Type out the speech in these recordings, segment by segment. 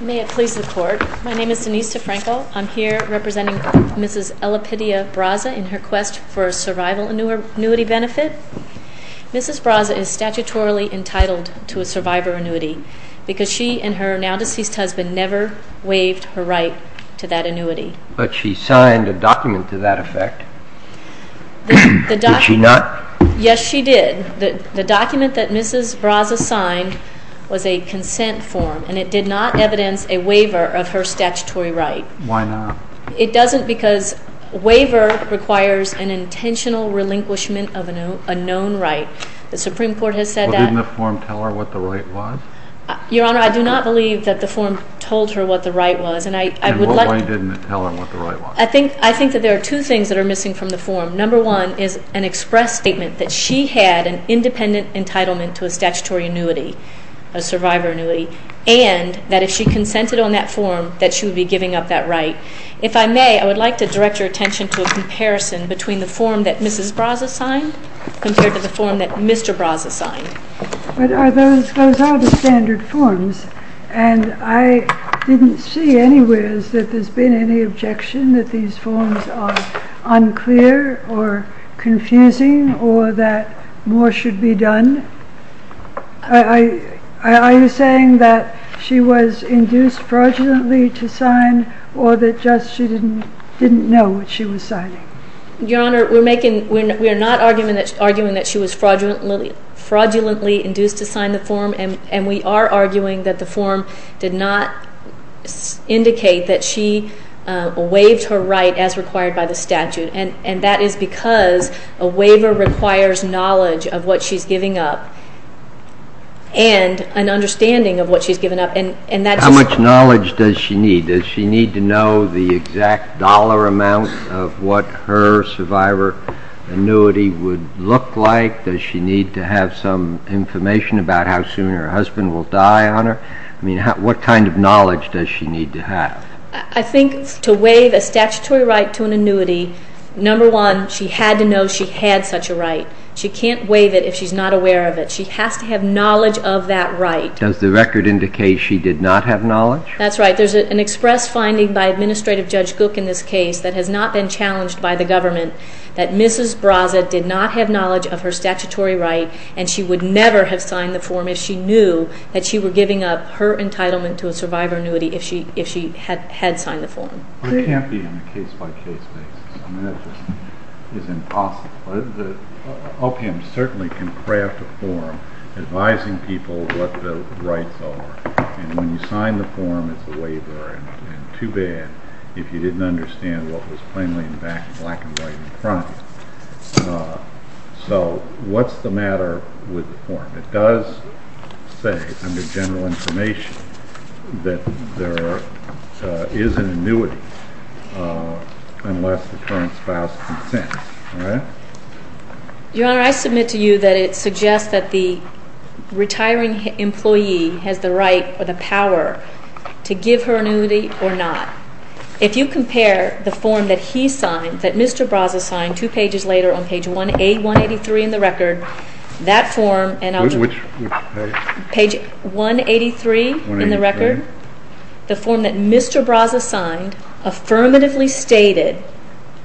May it please the Court. My name is Denise DeFranco. I'm here representing Mrs. Elipidia Braza in her quest for a survival annuity benefit. Mrs. Braza is statutorily entitled to a survivor annuity because she and her now-deceased husband never waived her right to that annuity. But she signed a document to that effect. Did she not? Yes, she did. The document that Mrs. Braza signed was a consent form, and it did not evidence a waiver of her statutory right. Why not? It doesn't because a waiver requires an intentional relinquishment of a known right. The Supreme Court has said that. Well, didn't the form tell her what the right was? Your Honor, I do not believe that the form told her what the right was. And why didn't it tell her what the right was? I think that there are two things that are missing from the form. Number one is an express statement that she had an independent entitlement to a statutory annuity, a survivor annuity, and that if she consented on that form, that she would be giving up that right. If I may, I would like to direct your attention to a comparison between the form that Mrs. Braza signed compared to the form that Mr. Braza signed. But those are the standard forms. And I didn't see anywhere that there's been any objection that these forms are unclear or confusing or that more should be done. Are you saying that she was induced fraudulently to sign or that just she didn't know what she was signing? Your Honor, we are not arguing that she was fraudulently induced to sign the form, and we are arguing that the form did not indicate that she waived her right as required by the statute. And that is because a waiver requires knowledge of what she's giving up and an understanding of what she's giving up. How much knowledge does she need? Does she need to know the exact dollar amount of what her survivor annuity would look like? Does she need to have some information about how soon her husband will die on her? I mean, what kind of knowledge does she need to have? I think to waive a statutory right to an annuity, number one, she had to know she had such a right. She can't waive it if she's not aware of it. She has to have knowledge of that right. Does the record indicate she did not have knowledge? That's right. There's an express finding by Administrative Judge Gook in this case that has not been challenged by the government that Mrs. Brazett did not have knowledge of her statutory right, and she would never have signed the form if she knew that she were giving up her entitlement to a survivor annuity if she had signed the form. It can't be in a case-by-case basis. I mean, that just is impossible. The OPM certainly can craft a form advising people what the rights are, and when you sign the form, it's a waiver, and too bad if you didn't understand what was plainly in the back and black and white in the front. So what's the matter with the form? It does say under general information that there is an annuity unless the current spouse consents. Your Honor, I submit to you that it suggests that the retiring employee has the right or the power to give her annuity or not. If you compare the form that he signed, that Mr. Brazett signed, two pages later on page 183 in the record, that form and page 183 in the record, the form that Mr. Brazett signed affirmatively stated,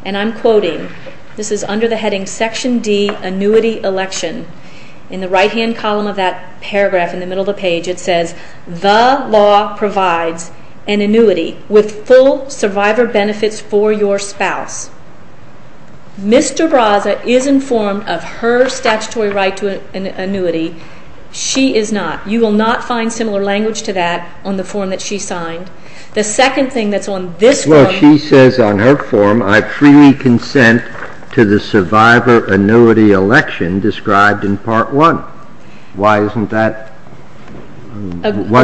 and I'm quoting, this is under the heading Section D, Annuity Election. In the right-hand column of that paragraph in the middle of the page, it says, The law provides an annuity with full survivor benefits for your spouse. Mr. Brazett is informed of her statutory right to an annuity. She is not. You will not find similar language to that on the form that she signed. The second thing that's on this form. Well, she says on her form, I freely consent to the survivor annuity election described in Part 1. Why isn't that,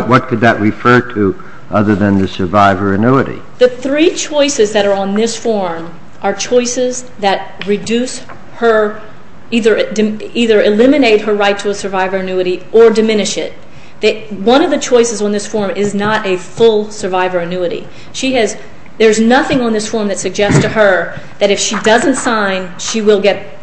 what could that refer to other than the survivor annuity? The three choices that are on this form are choices that reduce her, either eliminate her right to a survivor annuity or diminish it. One of the choices on this form is not a full survivor annuity. She has, there's nothing on this form that suggests to her that if she doesn't sign, she will get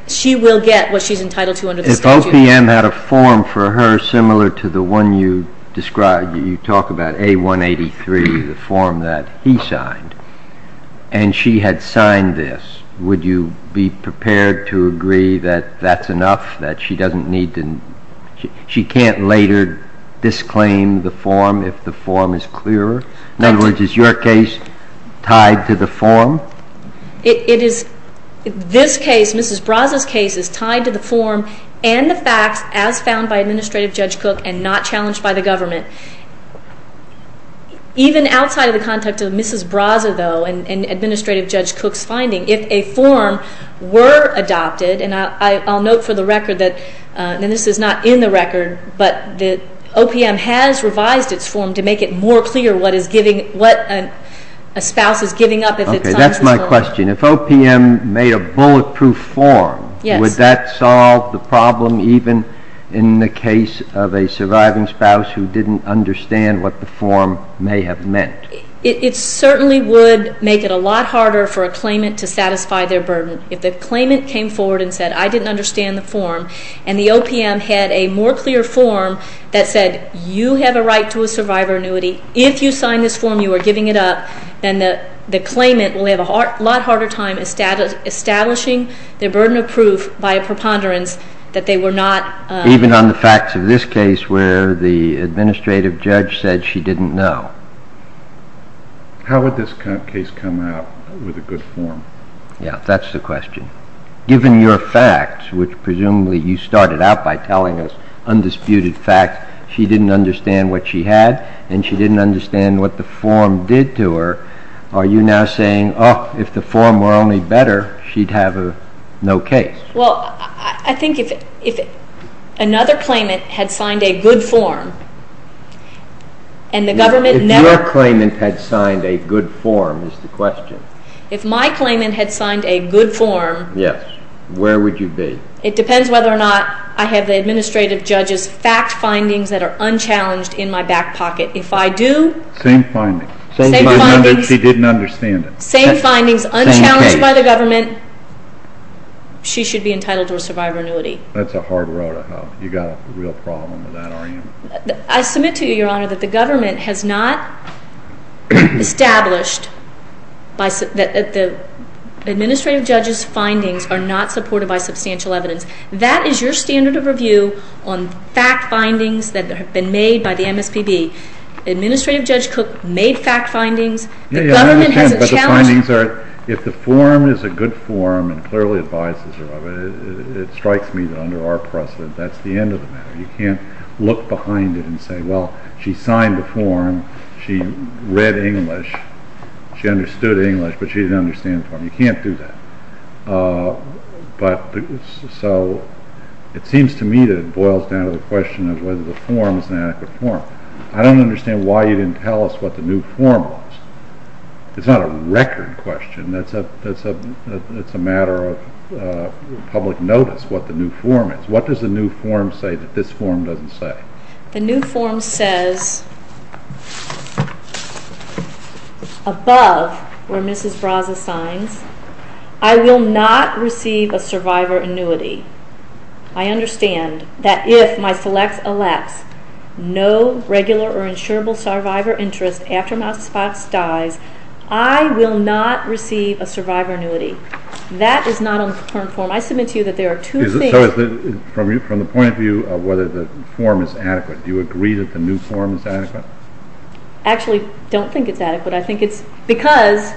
what she's entitled to under the statute. If OPM had a form for her similar to the one you described, you talk about A183, the form that he signed, and she had signed this, would you be prepared to agree that that's enough, that she doesn't need to, she can't later disclaim the form if the form is clearer? In other words, is your case tied to the form? It is. This case, Mrs. Braza's case, is tied to the form and the facts as found by Administrative Judge Cook and not challenged by the government. Even outside of the context of Mrs. Braza, though, and Administrative Judge Cook's finding, if a form were adopted, and I'll note for the record that, and this is not in the record, but that OPM has revised its form to make it more clear what is giving, what a spouse is giving up if it signs a form. Okay, that's my question. If OPM made a bulletproof form, would that solve the problem even in the case of a surviving spouse who didn't understand what the form may have meant? It certainly would make it a lot harder for a claimant to satisfy their burden. If the claimant came forward and said, I didn't understand the form, and the OPM had a more clear form that said, you have a right to a survivor annuity, if you sign this form, you are giving it up, then the claimant will have a lot harder time establishing their burden of proof by a preponderance that they were not. Even on the facts of this case where the Administrative Judge said she didn't know. How would this case come out with a good form? Yeah, that's the question. Given your facts, which presumably you started out by telling us undisputed facts, she didn't understand what she had and she didn't understand what the form did to her, are you now saying, oh, if the form were only better, she'd have no case? Well, I think if another claimant had signed a good form and the government never... If your claimant had signed a good form is the question. If my claimant had signed a good form... Yes, where would you be? It depends whether or not I have the Administrative Judge's fact findings that are unchallenged in my back pocket. If I do... Same findings. Same findings. She didn't understand it. Same findings, unchallenged by the government, she should be entitled to a survivor annuity. That's a hard row to hoe. You've got a real problem with that, aren't you? I submit to you, Your Honor, that the government has not established that the Administrative Judge's findings are not supported by substantial evidence. That is your standard of review on fact findings that have been made by the MSPB. Administrative Judge Cook made fact findings. The government hasn't challenged... I understand, but the findings are, if the form is a good form and clearly advises a survivor, it strikes me that under our precedent that's the end of the matter. You can't look behind it and say, well, she signed the form, she read English, she understood English, but she didn't understand the form. You can't do that. It seems to me that it boils down to the question of whether the form is an adequate form. I don't understand why you didn't tell us what the new form was. It's not a record question. It's a matter of public notice, what the new form is. What does the new form say that this form doesn't say? The new form says, above where Mrs. Braza signs, I will not receive a survivor annuity. I understand that if my selects elects no regular or insurable survivor interest after Mrs. Braza dies, I will not receive a survivor annuity. That is not on the current form. I submit to you that there are two things. From the point of view of whether the form is adequate, do you agree that the new form is adequate? Actually, I don't think it's adequate. I think it's because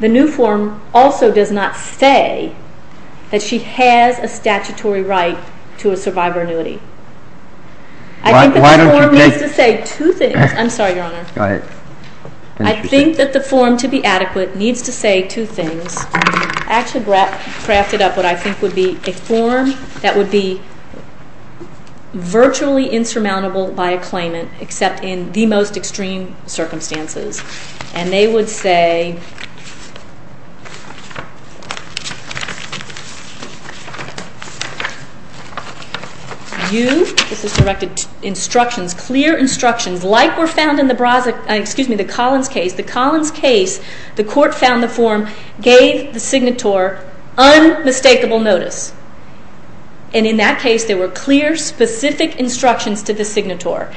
the new form also does not say that she has a statutory right to a survivor annuity. I think that the form needs to say two things. I'm sorry, Your Honor. Go ahead. I think that the form, to be adequate, needs to say two things. I actually crafted up what I think would be a form that would be virtually insurmountable by a claimant, except in the most extreme circumstances. And they would say, you, this is directed to instructions, clear instructions, like were found in the Braza, excuse me, the Collins case. The Collins case, the court found the form gave the signator unmistakable notice. And in that case, there were clear, specific instructions to the signator.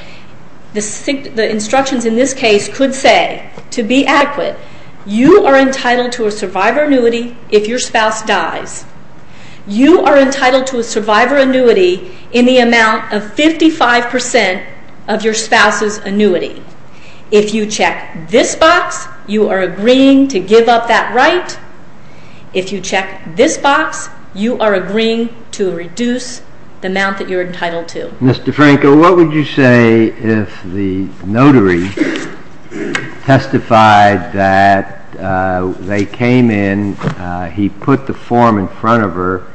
The instructions in this case could say, to be adequate, you are entitled to a survivor annuity if your spouse dies. You are entitled to a survivor annuity in the amount of 55% of your spouse's annuity. If you check this box, you are agreeing to give up that right. If you check this box, you are agreeing to reduce the amount that you're entitled to. Mr. Franco, what would you say if the notary testified that they came in, he put the form in front of her,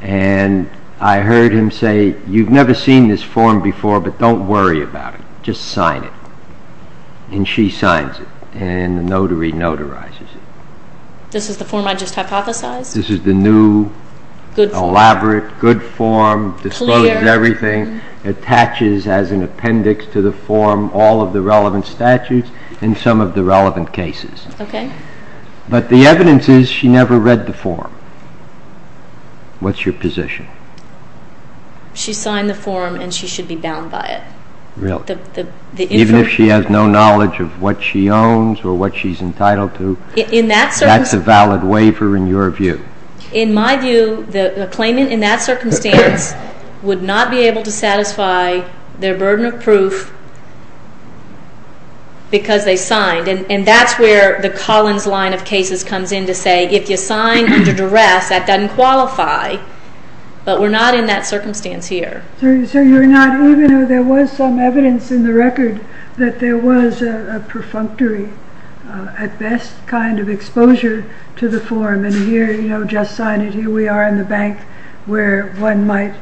and I heard him say, you've never seen this form before, but don't worry about it, just sign it. And she signs it, and the notary notarizes it. This is the form I just hypothesized? This is the new, elaborate, good form, discloses everything, attaches as an appendix to the form all of the relevant statutes, and some of the relevant cases. But the evidence is she never read the form. What's your position? She signed the form, and she should be bound by it. Really? Even if she has no knowledge of what she owns or what she's entitled to, that's a valid waiver in your view? In my view, the claimant in that circumstance would not be able to satisfy their burden of proof because they signed. And that's where the Collins line of cases comes in to say, if you sign under duress, that doesn't qualify. But we're not in that circumstance here. So you're not, even though there was some evidence in the record that there was a perfunctory, at best, kind of exposure to the form, and here, you know, just sign it, here we are in the bank where one might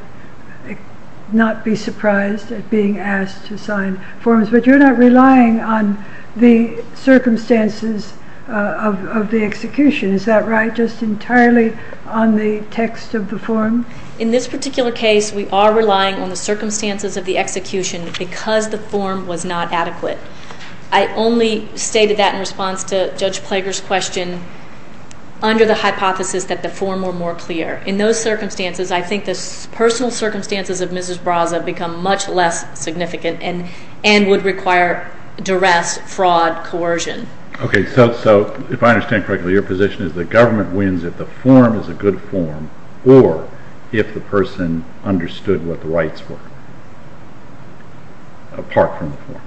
not be surprised at being asked to sign forms. But you're not relying on the circumstances of the execution. Is that right, just entirely on the text of the form? In this particular case, we are relying on the circumstances of the execution because the form was not adequate. I only stated that in response to Judge Plager's question under the hypothesis that the form were more clear. In those circumstances, I think the personal circumstances of Mrs. Braza become much less significant and would require duress, fraud, coercion. Okay, so if I understand correctly, your position is the government wins if the form is a good form or if the person understood what the rights were apart from the form.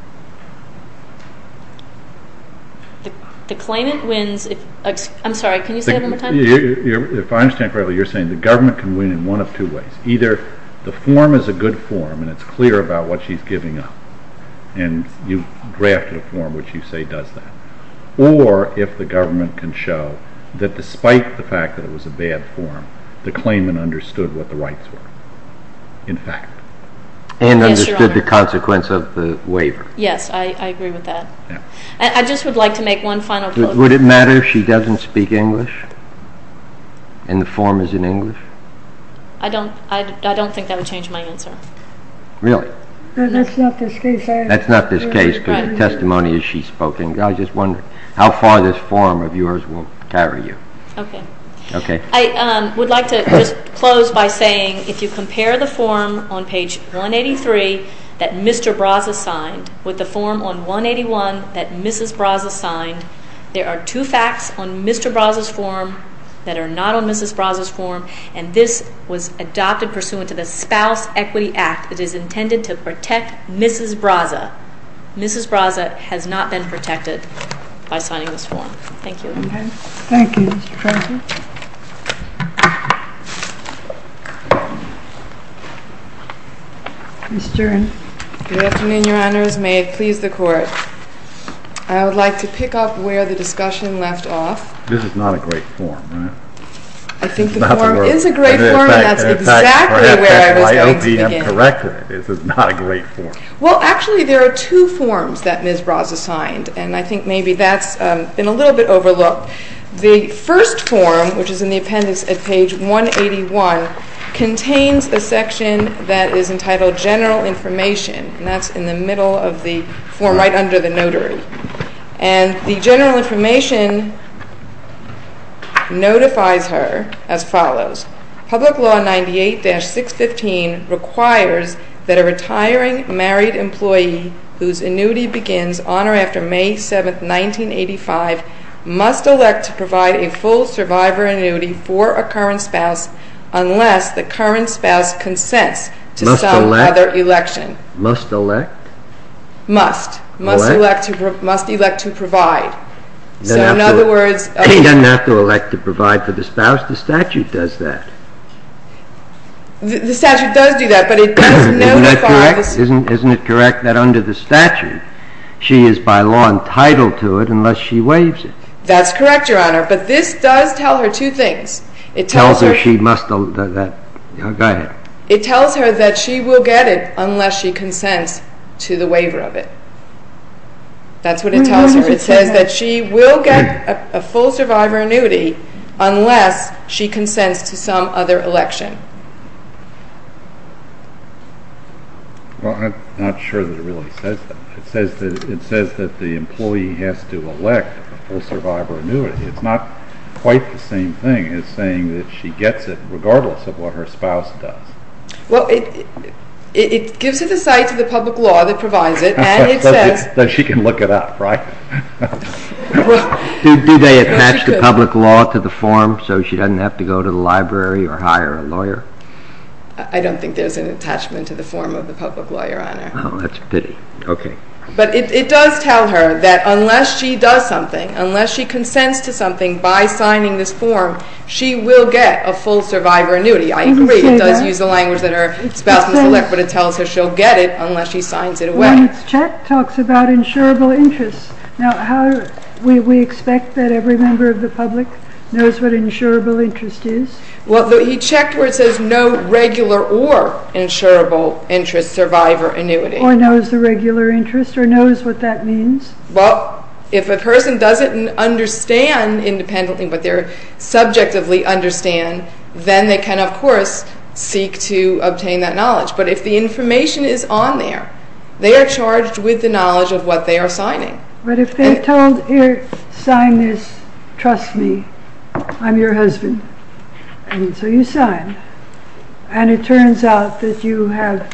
The claimant wins if, I'm sorry, can you say that one more time? If I understand correctly, you're saying the government can win in one of two ways. Either the form is a good form and it's clear about what she's giving up, and you've drafted a form which you say does that, or if the government can show that despite the fact that it was a bad form, the claimant understood what the rights were, in fact. And understood the consequence of the waiver. Yes, I agree with that. I just would like to make one final point. Would it matter if she doesn't speak English and the form is in English? I don't think that would change my answer. Really? That's not the case. That's not the case because the testimony is she's spoken. I just wonder how far this form of yours will carry you. Okay. Okay. I would like to just close by saying if you compare the form on page 183 that Mr. Braza signed with the form on 181 that Mrs. Braza signed, there are two facts on Mr. Braza's form that are not on Mrs. Braza's form, and this was adopted pursuant to the Spouse Equity Act. It is intended to protect Mrs. Braza. Mrs. Braza has not been protected by signing this form. Thank you. Okay. Thank you, Mr. President. Ms. Stern. Good afternoon, Your Honors. May it please the Court. I would like to pick up where the discussion left off. This is not a great form, right? I think the form is a great form. That's exactly where I was going to begin. I hope you have corrected it. This is not a great form. Well, actually, there are two forms that Ms. Braza signed, and I think maybe that's been a little bit overlooked. The first form, which is in the appendix at page 181, contains a section that is entitled General Information, and that's in the middle of the form right under the notary. And the general information notifies her as follows. Public Law 98-615 requires that a retiring married employee whose annuity begins on or after May 7, 1985, must elect to provide a full survivor annuity for a current spouse unless the current spouse consents to some other election. Must elect? Must. Elect? Must elect to provide. So in other words, She doesn't have to elect to provide for the spouse. The statute does that. The statute does do that, but it does notify. Isn't it correct that under the statute, she is by law entitled to it unless she waives it? That's correct, Your Honor. But this does tell her two things. It tells her she must elect. Go ahead. It tells her that she will get it unless she consents to the waiver of it. That's what it tells her. It says that she will get a full survivor annuity unless she consents to some other election. Well, I'm not sure that it really says that. It says that the employee has to elect a full survivor annuity. It's not quite the same thing as saying that she gets it regardless of what her spouse does. Well, it gives her the sights of the public law that provides it, and it says that she can look it up, right? Do they attach the public law to the form so she doesn't have to go to the library or hire a lawyer? I don't think there's an attachment to the form of the public law, Your Honor. Oh, that's a pity. Okay. But it does tell her that unless she does something, unless she consents to something by signing this form, she will get a full survivor annuity. I agree. It does use the language that her spouse must elect, but it tells her she'll get it unless she signs it away. Well, it's checked, talks about insurable interests. Now, how do we expect that every member of the public knows what insurable interest is? Well, he checked where it says no regular or insurable interest survivor annuity. Or knows the regular interest or knows what that means? Well, if a person doesn't understand independently what they subjectively understand, then they can, of course, seek to obtain that knowledge. But if the information is on there, they are charged with the knowledge of what they are signing. But if they're told, here, sign this, trust me, I'm your husband, and so you sign, and it turns out that you have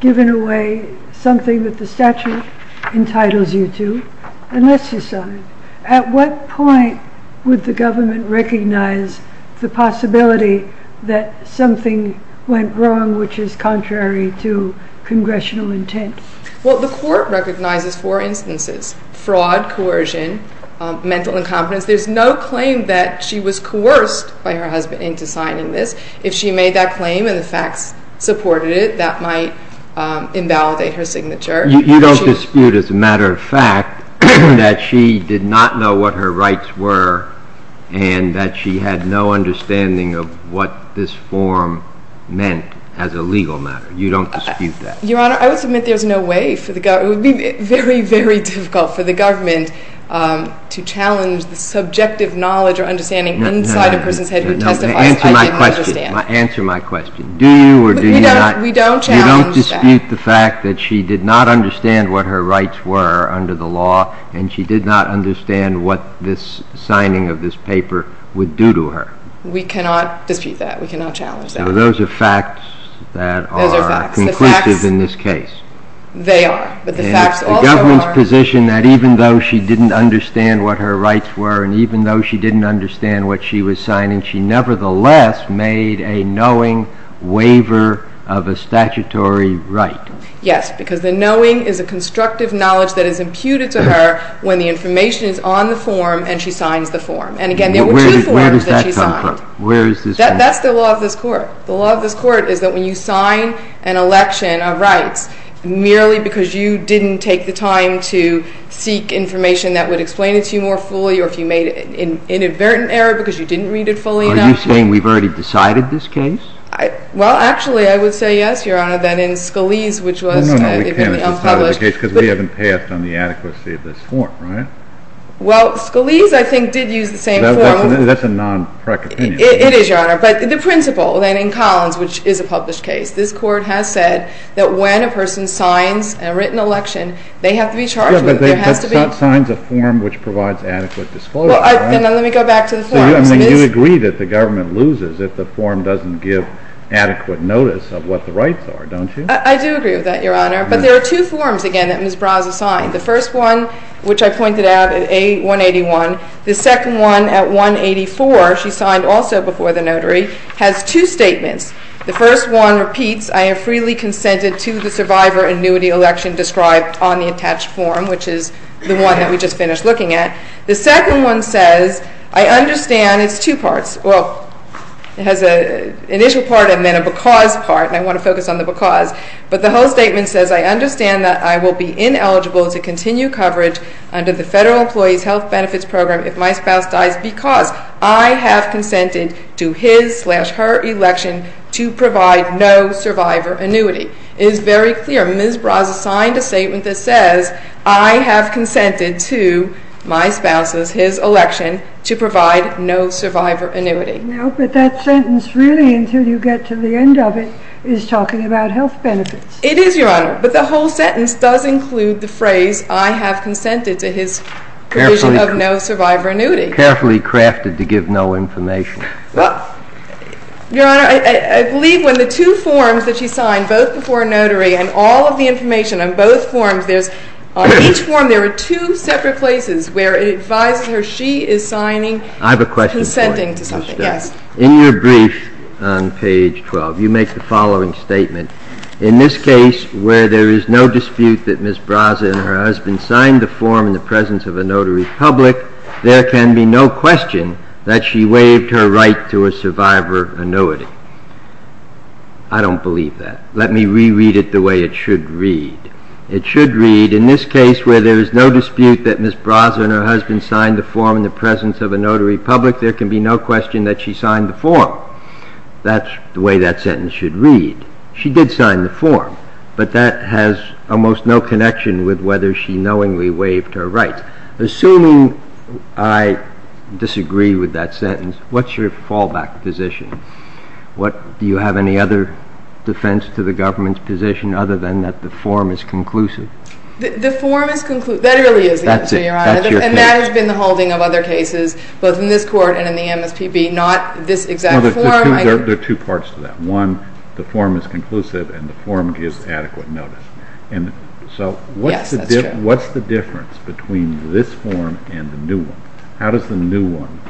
given away something that the statute entitles you to, unless you sign, at what point would the government recognize the possibility that something went wrong which is contrary to congressional intent? Well, the court recognizes four instances. Fraud, coercion, mental incompetence. There's no claim that she was coerced by her husband into signing this. If she made that claim and the facts supported it, that might invalidate her signature. You don't dispute, as a matter of fact, that she did not know what her rights were and that she had no understanding of what this form meant as a legal matter? You don't dispute that? Your Honor, I would submit there's no way for the government. It would be very, very difficult for the government to challenge the subjective knowledge or understanding inside a person's head who testifies, I didn't understand. Answer my question. Do you or do you not? We don't challenge that. You don't dispute the fact that she did not understand what her rights were under the law and she did not understand what this signing of this paper would do to her? We cannot dispute that. We cannot challenge that. Those are facts that are conclusive in this case. They are, but the facts also are. The government's position that even though she didn't understand what her rights were and even though she didn't understand what she was signing, she nevertheless made a knowing waiver of a statutory right. Yes, because the knowing is a constructive knowledge that is imputed to her when the information is on the form and she signs the form. And again, there were two forms that she signed. Where does that come from? That's the law of this Court. The law of this Court is that when you sign an election of rights, merely because you didn't take the time to seek information that would explain it to you more fully or if you made an inadvertent error because you didn't read it fully enough. Are you saying we've already decided this case? Well, actually, I would say yes, Your Honor, that in Scalise, which was even unpublished. No, no, we can't have decided the case because we haven't passed on the adequacy of this form, right? Well, Scalise, I think, did use the same form. That's a non-prec opinion. It is, Your Honor. But the principle, then, in Collins, which is a published case, this Court has said that when a person signs a written election, they have to be charged with it. There has to be. Yeah, but they have to sign a form which provides adequate disclosure. Well, let me go back to the form. So you agree that the government loses if the form doesn't give adequate notice of what the rights are, don't you? I do agree with that, Your Honor. But there are two forms, again, that Ms. Braza signed. The first one, which I pointed out, at A181. The second one, at 184, she signed also before the notary, has two statements. The first one repeats, I am freely consented to the survivor annuity election described on the attached form, which is the one that we just finished looking at. The second one says, I understand it's two parts. Well, it has an initial part and then a because part, and I want to focus on the because. But the whole statement says, I understand that I will be ineligible to continue coverage under the Federal Employees' Health Benefits Program if my spouse dies because I have consented to his slash her election to provide no survivor annuity. It is very clear. Ms. Braza signed a statement that says, I have consented to my spouse's, his election, to provide no survivor annuity. No, but that sentence really, until you get to the end of it, is talking about health benefits. It is, Your Honor. But the whole sentence does include the phrase, I have consented to his provision of no survivor annuity. Carefully crafted to give no information. Well, Your Honor, I believe when the two forms that she signed, both before a notary and all of the information on both forms, on each form there are two separate places where it advises her she is signing, I have a question for you. consenting to something. Yes. In your brief on page 12, you make the following statement. In this case, where there is no dispute that Ms. Braza and her husband signed the form in the presence of a notary public, there can be no question that she waived her right to a survivor annuity. I don't believe that. Let me reread it the way it should read. It should read, in this case where there is no dispute that Ms. Braza and her husband signed the form in the presence of a notary public, there can be no question that she signed the form. That's the way that sentence should read. She did sign the form, but that has almost no connection with whether she knowingly waived her right. Assuming I disagree with that sentence, what's your fallback position? Do you have any other defense to the government's position other than that the form is conclusive? The form is conclusive. That really is that, Your Honor. That's it. That's your case. And that has been the holding of other cases, both in this Court and in the MSPB, not this exact form. There are two parts to that. One, the form is conclusive and the form gives adequate notice. Yes, that's true. So what's the difference between this form and the new one? How does the new one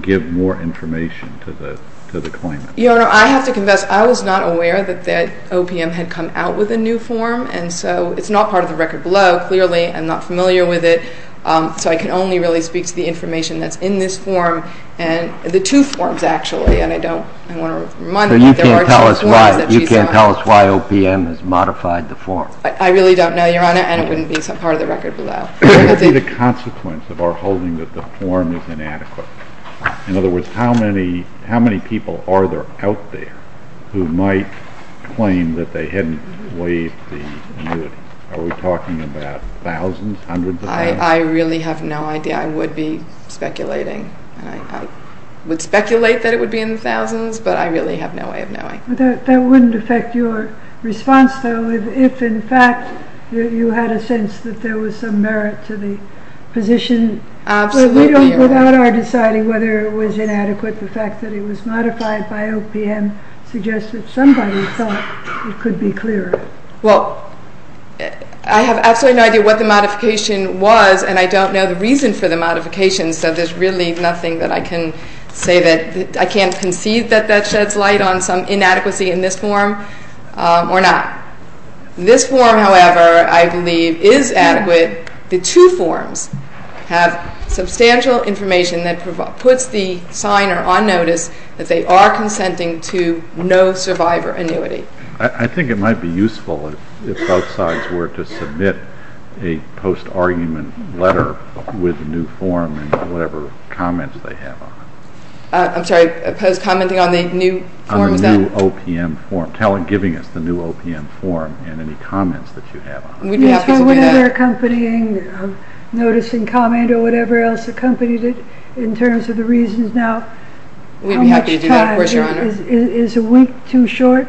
give more information to the claimant? Your Honor, I have to confess, I was not aware that OPM had come out with a new form, and so it's not part of the record below, clearly. I'm not familiar with it, so I can only really speak to the information that's in this form, the two forms, actually. So you can't tell us why OPM has modified the form? I really don't know, Your Honor, and it wouldn't be part of the record below. Is it a consequence of our holding that the form is inadequate? In other words, how many people are there out there who might claim that they hadn't waived the annuity? Are we talking about thousands, hundreds of thousands? I really have no idea. I would be speculating. I would speculate that it would be in the thousands, but I really have no way of knowing. That wouldn't affect your response, though, if, in fact, you had a sense that there was some merit to the position. Absolutely, Your Honor. Without our deciding whether it was inadequate, the fact that it was modified by OPM suggests that somebody thought it could be clearer. Well, I have absolutely no idea what the modification was, and I don't know the reason for the modification, so there's really nothing that I can say that I can't concede that that sheds light on, some inadequacy in this form or not. This form, however, I believe is adequate. The two forms have substantial information that puts the signer on notice that they are consenting to no survivor annuity. I think it might be useful if both sides were to submit a post-argument letter with the new form and whatever comments they have on it. I'm sorry. Post-commenting on the new form? On the new OPM form. Giving us the new OPM form and any comments that you have on it. We'd be happy to do that. Or whatever accompanying noticing comment or whatever else accompanied it in terms of the reasons now. We'd be happy to do that, of course, Your Honor. Is a week too short?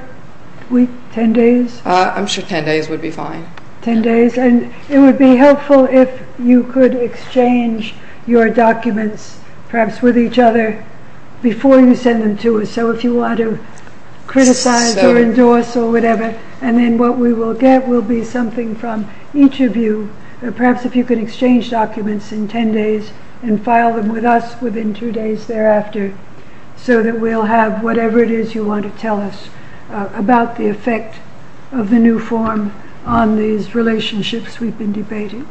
Ten days? I'm sure ten days would be fine. Ten days? It would be helpful if you could exchange your documents, perhaps with each other, before you send them to us, so if you want to criticize or endorse or whatever, and then what we will get will be something from each of you, perhaps if you could exchange documents in ten days and file them with us within two days thereafter so that we'll have whatever it is you want to tell us about the effect of the new form on these relationships we've been debating.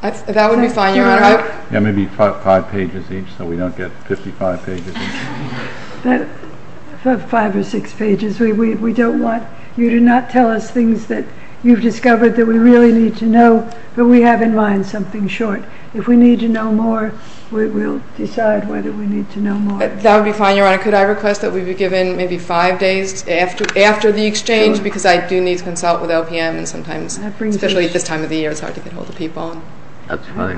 That would be fine, Your Honor. Yeah, maybe five pages each so we don't get 55 pages each. Five or six pages. We don't want you to not tell us things that you've discovered that we really need to know, but we have in mind something short. If we need to know more, we'll decide whether we need to know more. That would be fine, Your Honor. Could I request that we be given maybe five days after the exchange because I do need to consult with OPM and sometimes, especially at this time of the year, it's hard to get ahold of people. That's fine.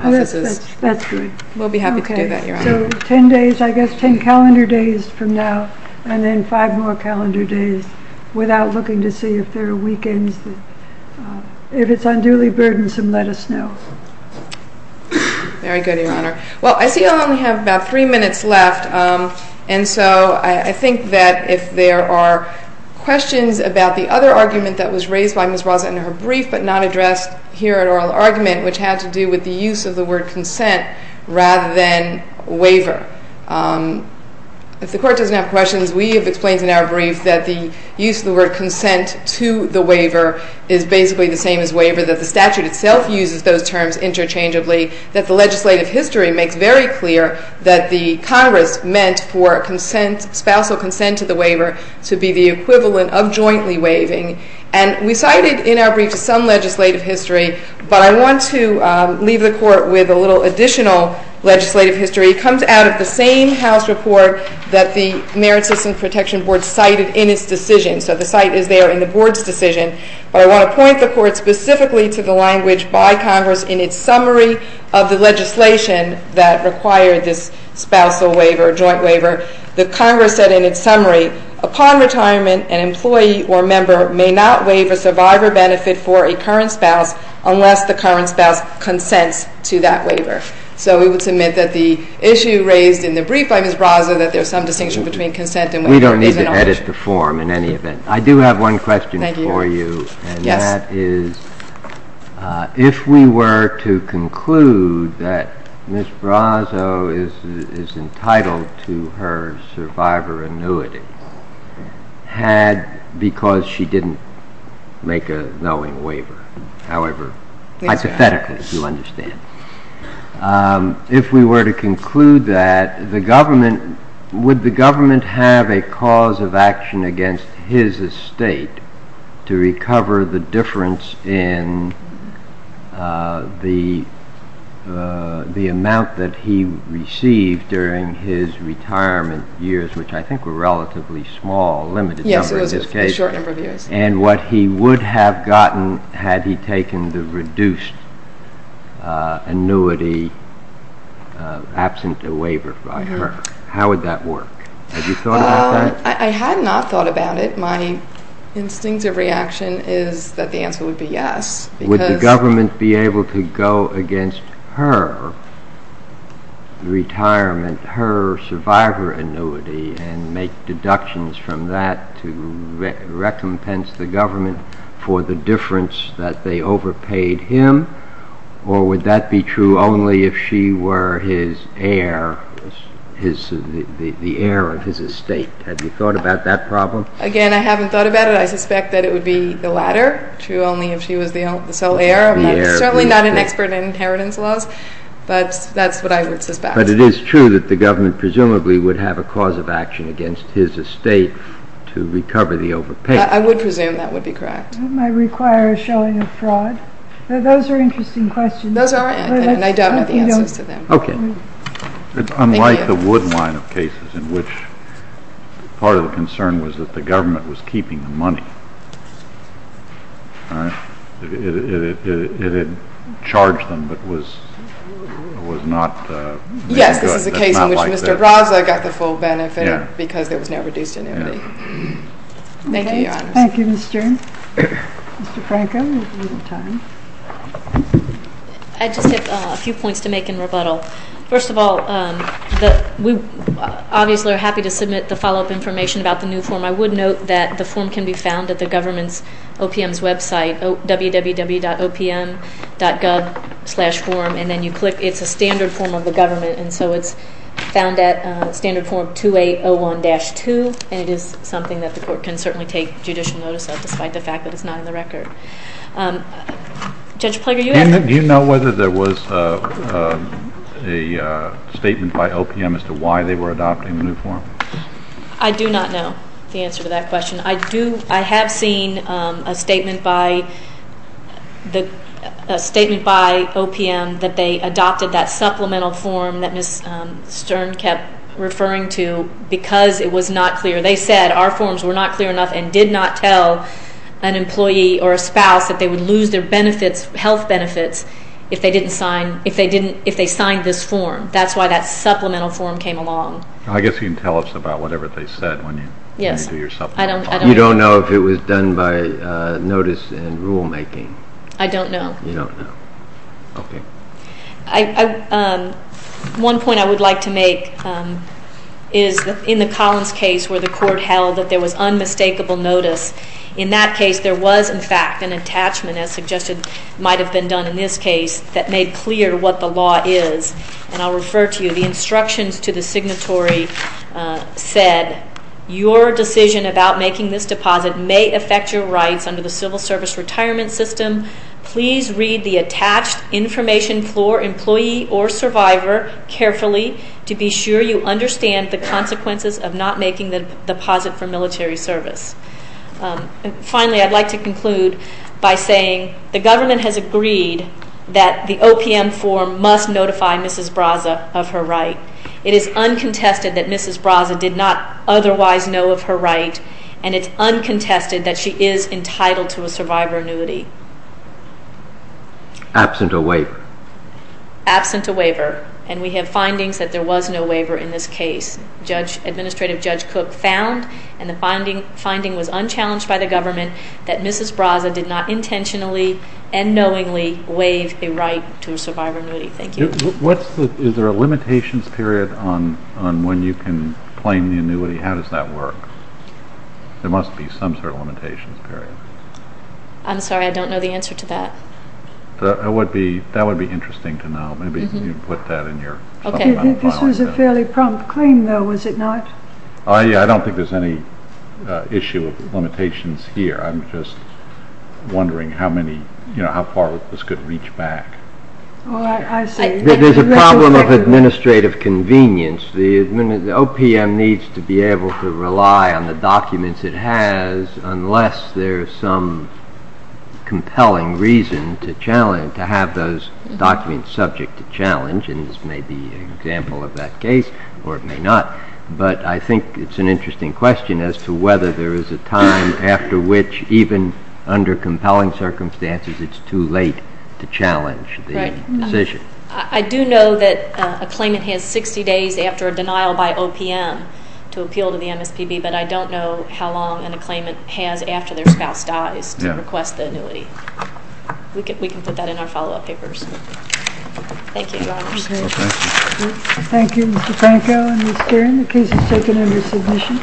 That's great. We'll be happy to do that, Your Honor. So ten days, I guess ten calendar days from now, and then five more calendar days without looking to see if there are weekends. If it's unduly burdensome, let us know. Very good, Your Honor. Well, I see I only have about three minutes left, and so I think that if there are questions about the other argument that was raised by Ms. Roza in her brief but not addressed here at oral argument, which had to do with the use of the word consent rather than waiver. If the Court doesn't have questions, we have explained in our brief that the use of the word consent to the waiver is basically the same as waiver, that the statute itself uses those terms interchangeably, that the legislative history makes very clear that the Congress meant for spousal consent to the waiver to be the equivalent of jointly waiving. And we cited in our brief some legislative history, but I want to leave the Court with a little additional legislative history. It comes out of the same House report that the Merit System Protection Board cited in its decision. So the cite is there in the Board's decision, but I want to point the Court specifically to the language by Congress in its summary of the legislation that required this spousal waiver, joint waiver. The Congress said in its summary, upon retirement an employee or member may not waive a survivor benefit for a current spouse unless the current spouse consents to that waiver. So we would submit that the issue raised in the brief by Ms. Brazo, that there's some distinction between consent and waiver. We don't need to edit the form in any event. I do have one question for you. Thank you. And that is if we were to conclude that Ms. Brazo is entitled to her survivor annuity had because she didn't make a knowing waiver, however, hypothetically, if you understand. If we were to conclude that, would the government have a cause of action against his estate to recover the difference in the amount that he received during his retirement years, which I think were relatively small, limited number in this case. Yes, it was a short number of years. And what he would have gotten had he taken the reduced annuity absent a waiver by her. How would that work? Have you thought about that? I had not thought about it. My instinctive reaction is that the answer would be yes. Would the government be able to go against her retirement, her survivor annuity, and make deductions from that to recompense the government for the difference that they overpaid him? Or would that be true only if she were his heir, the heir of his estate? Have you thought about that problem? Again, I haven't thought about it. I suspect that it would be the latter, true only if she was the sole heir. I'm certainly not an expert in inheritance laws, but that's what I would suspect. But it is true that the government presumably would have a cause of action against his estate to recover the overpayment. I would presume that would be correct. That might require a showing of fraud. Those are interesting questions. Those are. And I don't have the answers to them. Okay. Thank you. Unlike the Wood line of cases in which part of the concern was that the government was keeping the money, it had charged them but was not made good. Yes, this is a case in which Mr. Braza got the full benefit because there was no reduced annuity. Thank you, Your Honor. Thank you, Mr. Franco. We have a little time. I just have a few points to make in rebuttal. First of all, we obviously are happy to submit the follow-up information about the new form. I would note that the form can be found at the government's OPM's website, www.opm.gov/.form, and then you click. It's a standard form of the government, and so it's found at standard form 2801-2, and it is something that the court can certainly take judicial notice of, despite the fact that it's not in the record. Judge Plager, you had— Do you know whether there was a statement by OPM as to why they were adopting the new form? I do not know the answer to that question. I have seen a statement by OPM that they adopted that supplemental form that Ms. Stern kept referring to because it was not clear. They said our forms were not clear enough and did not tell an employee or a spouse that they would lose their health benefits if they signed this form. That's why that supplemental form came along. I guess you can tell us about whatever they said when you do your supplemental form. Yes. I don't know. You don't know if it was done by notice and rulemaking? I don't know. You don't know. Okay. One point I would like to make is that in the Collins case where the court held that there was unmistakable notice, in that case there was, in fact, an attachment, as suggested, might have been done in this case that made clear what the law is, and I'll refer to you. The instructions to the signatory said, your decision about making this deposit may affect your rights under the Civil Service Retirement System. Please read the attached information for employee or survivor carefully to be sure you understand the consequences of not making the deposit for military service. Finally, I'd like to conclude by saying the government has agreed that the OPM form must notify Mrs. Braza of her right. It is uncontested that Mrs. Braza did not otherwise know of her right, and it's uncontested that she is entitled to a survivor annuity. Absent a waiver. Absent a waiver, and we have findings that there was no waiver in this case. Administrative Judge Cook found, and the finding was unchallenged by the government, that Mrs. Braza did not intentionally and knowingly waive a right to a survivor annuity. Thank you. Is there a limitations period on when you can claim the annuity? How does that work? There must be some sort of limitations period. I'm sorry. I don't know the answer to that. That would be interesting to know. Maybe you can put that in your supplemental filing. This was a fairly prompt claim, though, was it not? I don't think there's any issue of limitations here. I'm just wondering how far this could reach back. I see. There's a problem of administrative convenience. The OPM needs to be able to rely on the documents it has unless there's some compelling reason to have those documents subject to challenge, and this may be an example of that case, or it may not. But I think it's an interesting question as to whether there is a time after which, even under compelling circumstances, it's too late to challenge the decision. I do know that a claimant has 60 days after a denial by OPM to appeal to the MSPB, but I don't know how long a claimant has after their spouse dies to request the annuity. We can put that in our follow-up papers. Thank you, Your Honors. Thank you. Thank you, Mr. Franco and Mr. Nguyen. The case is taken under submission.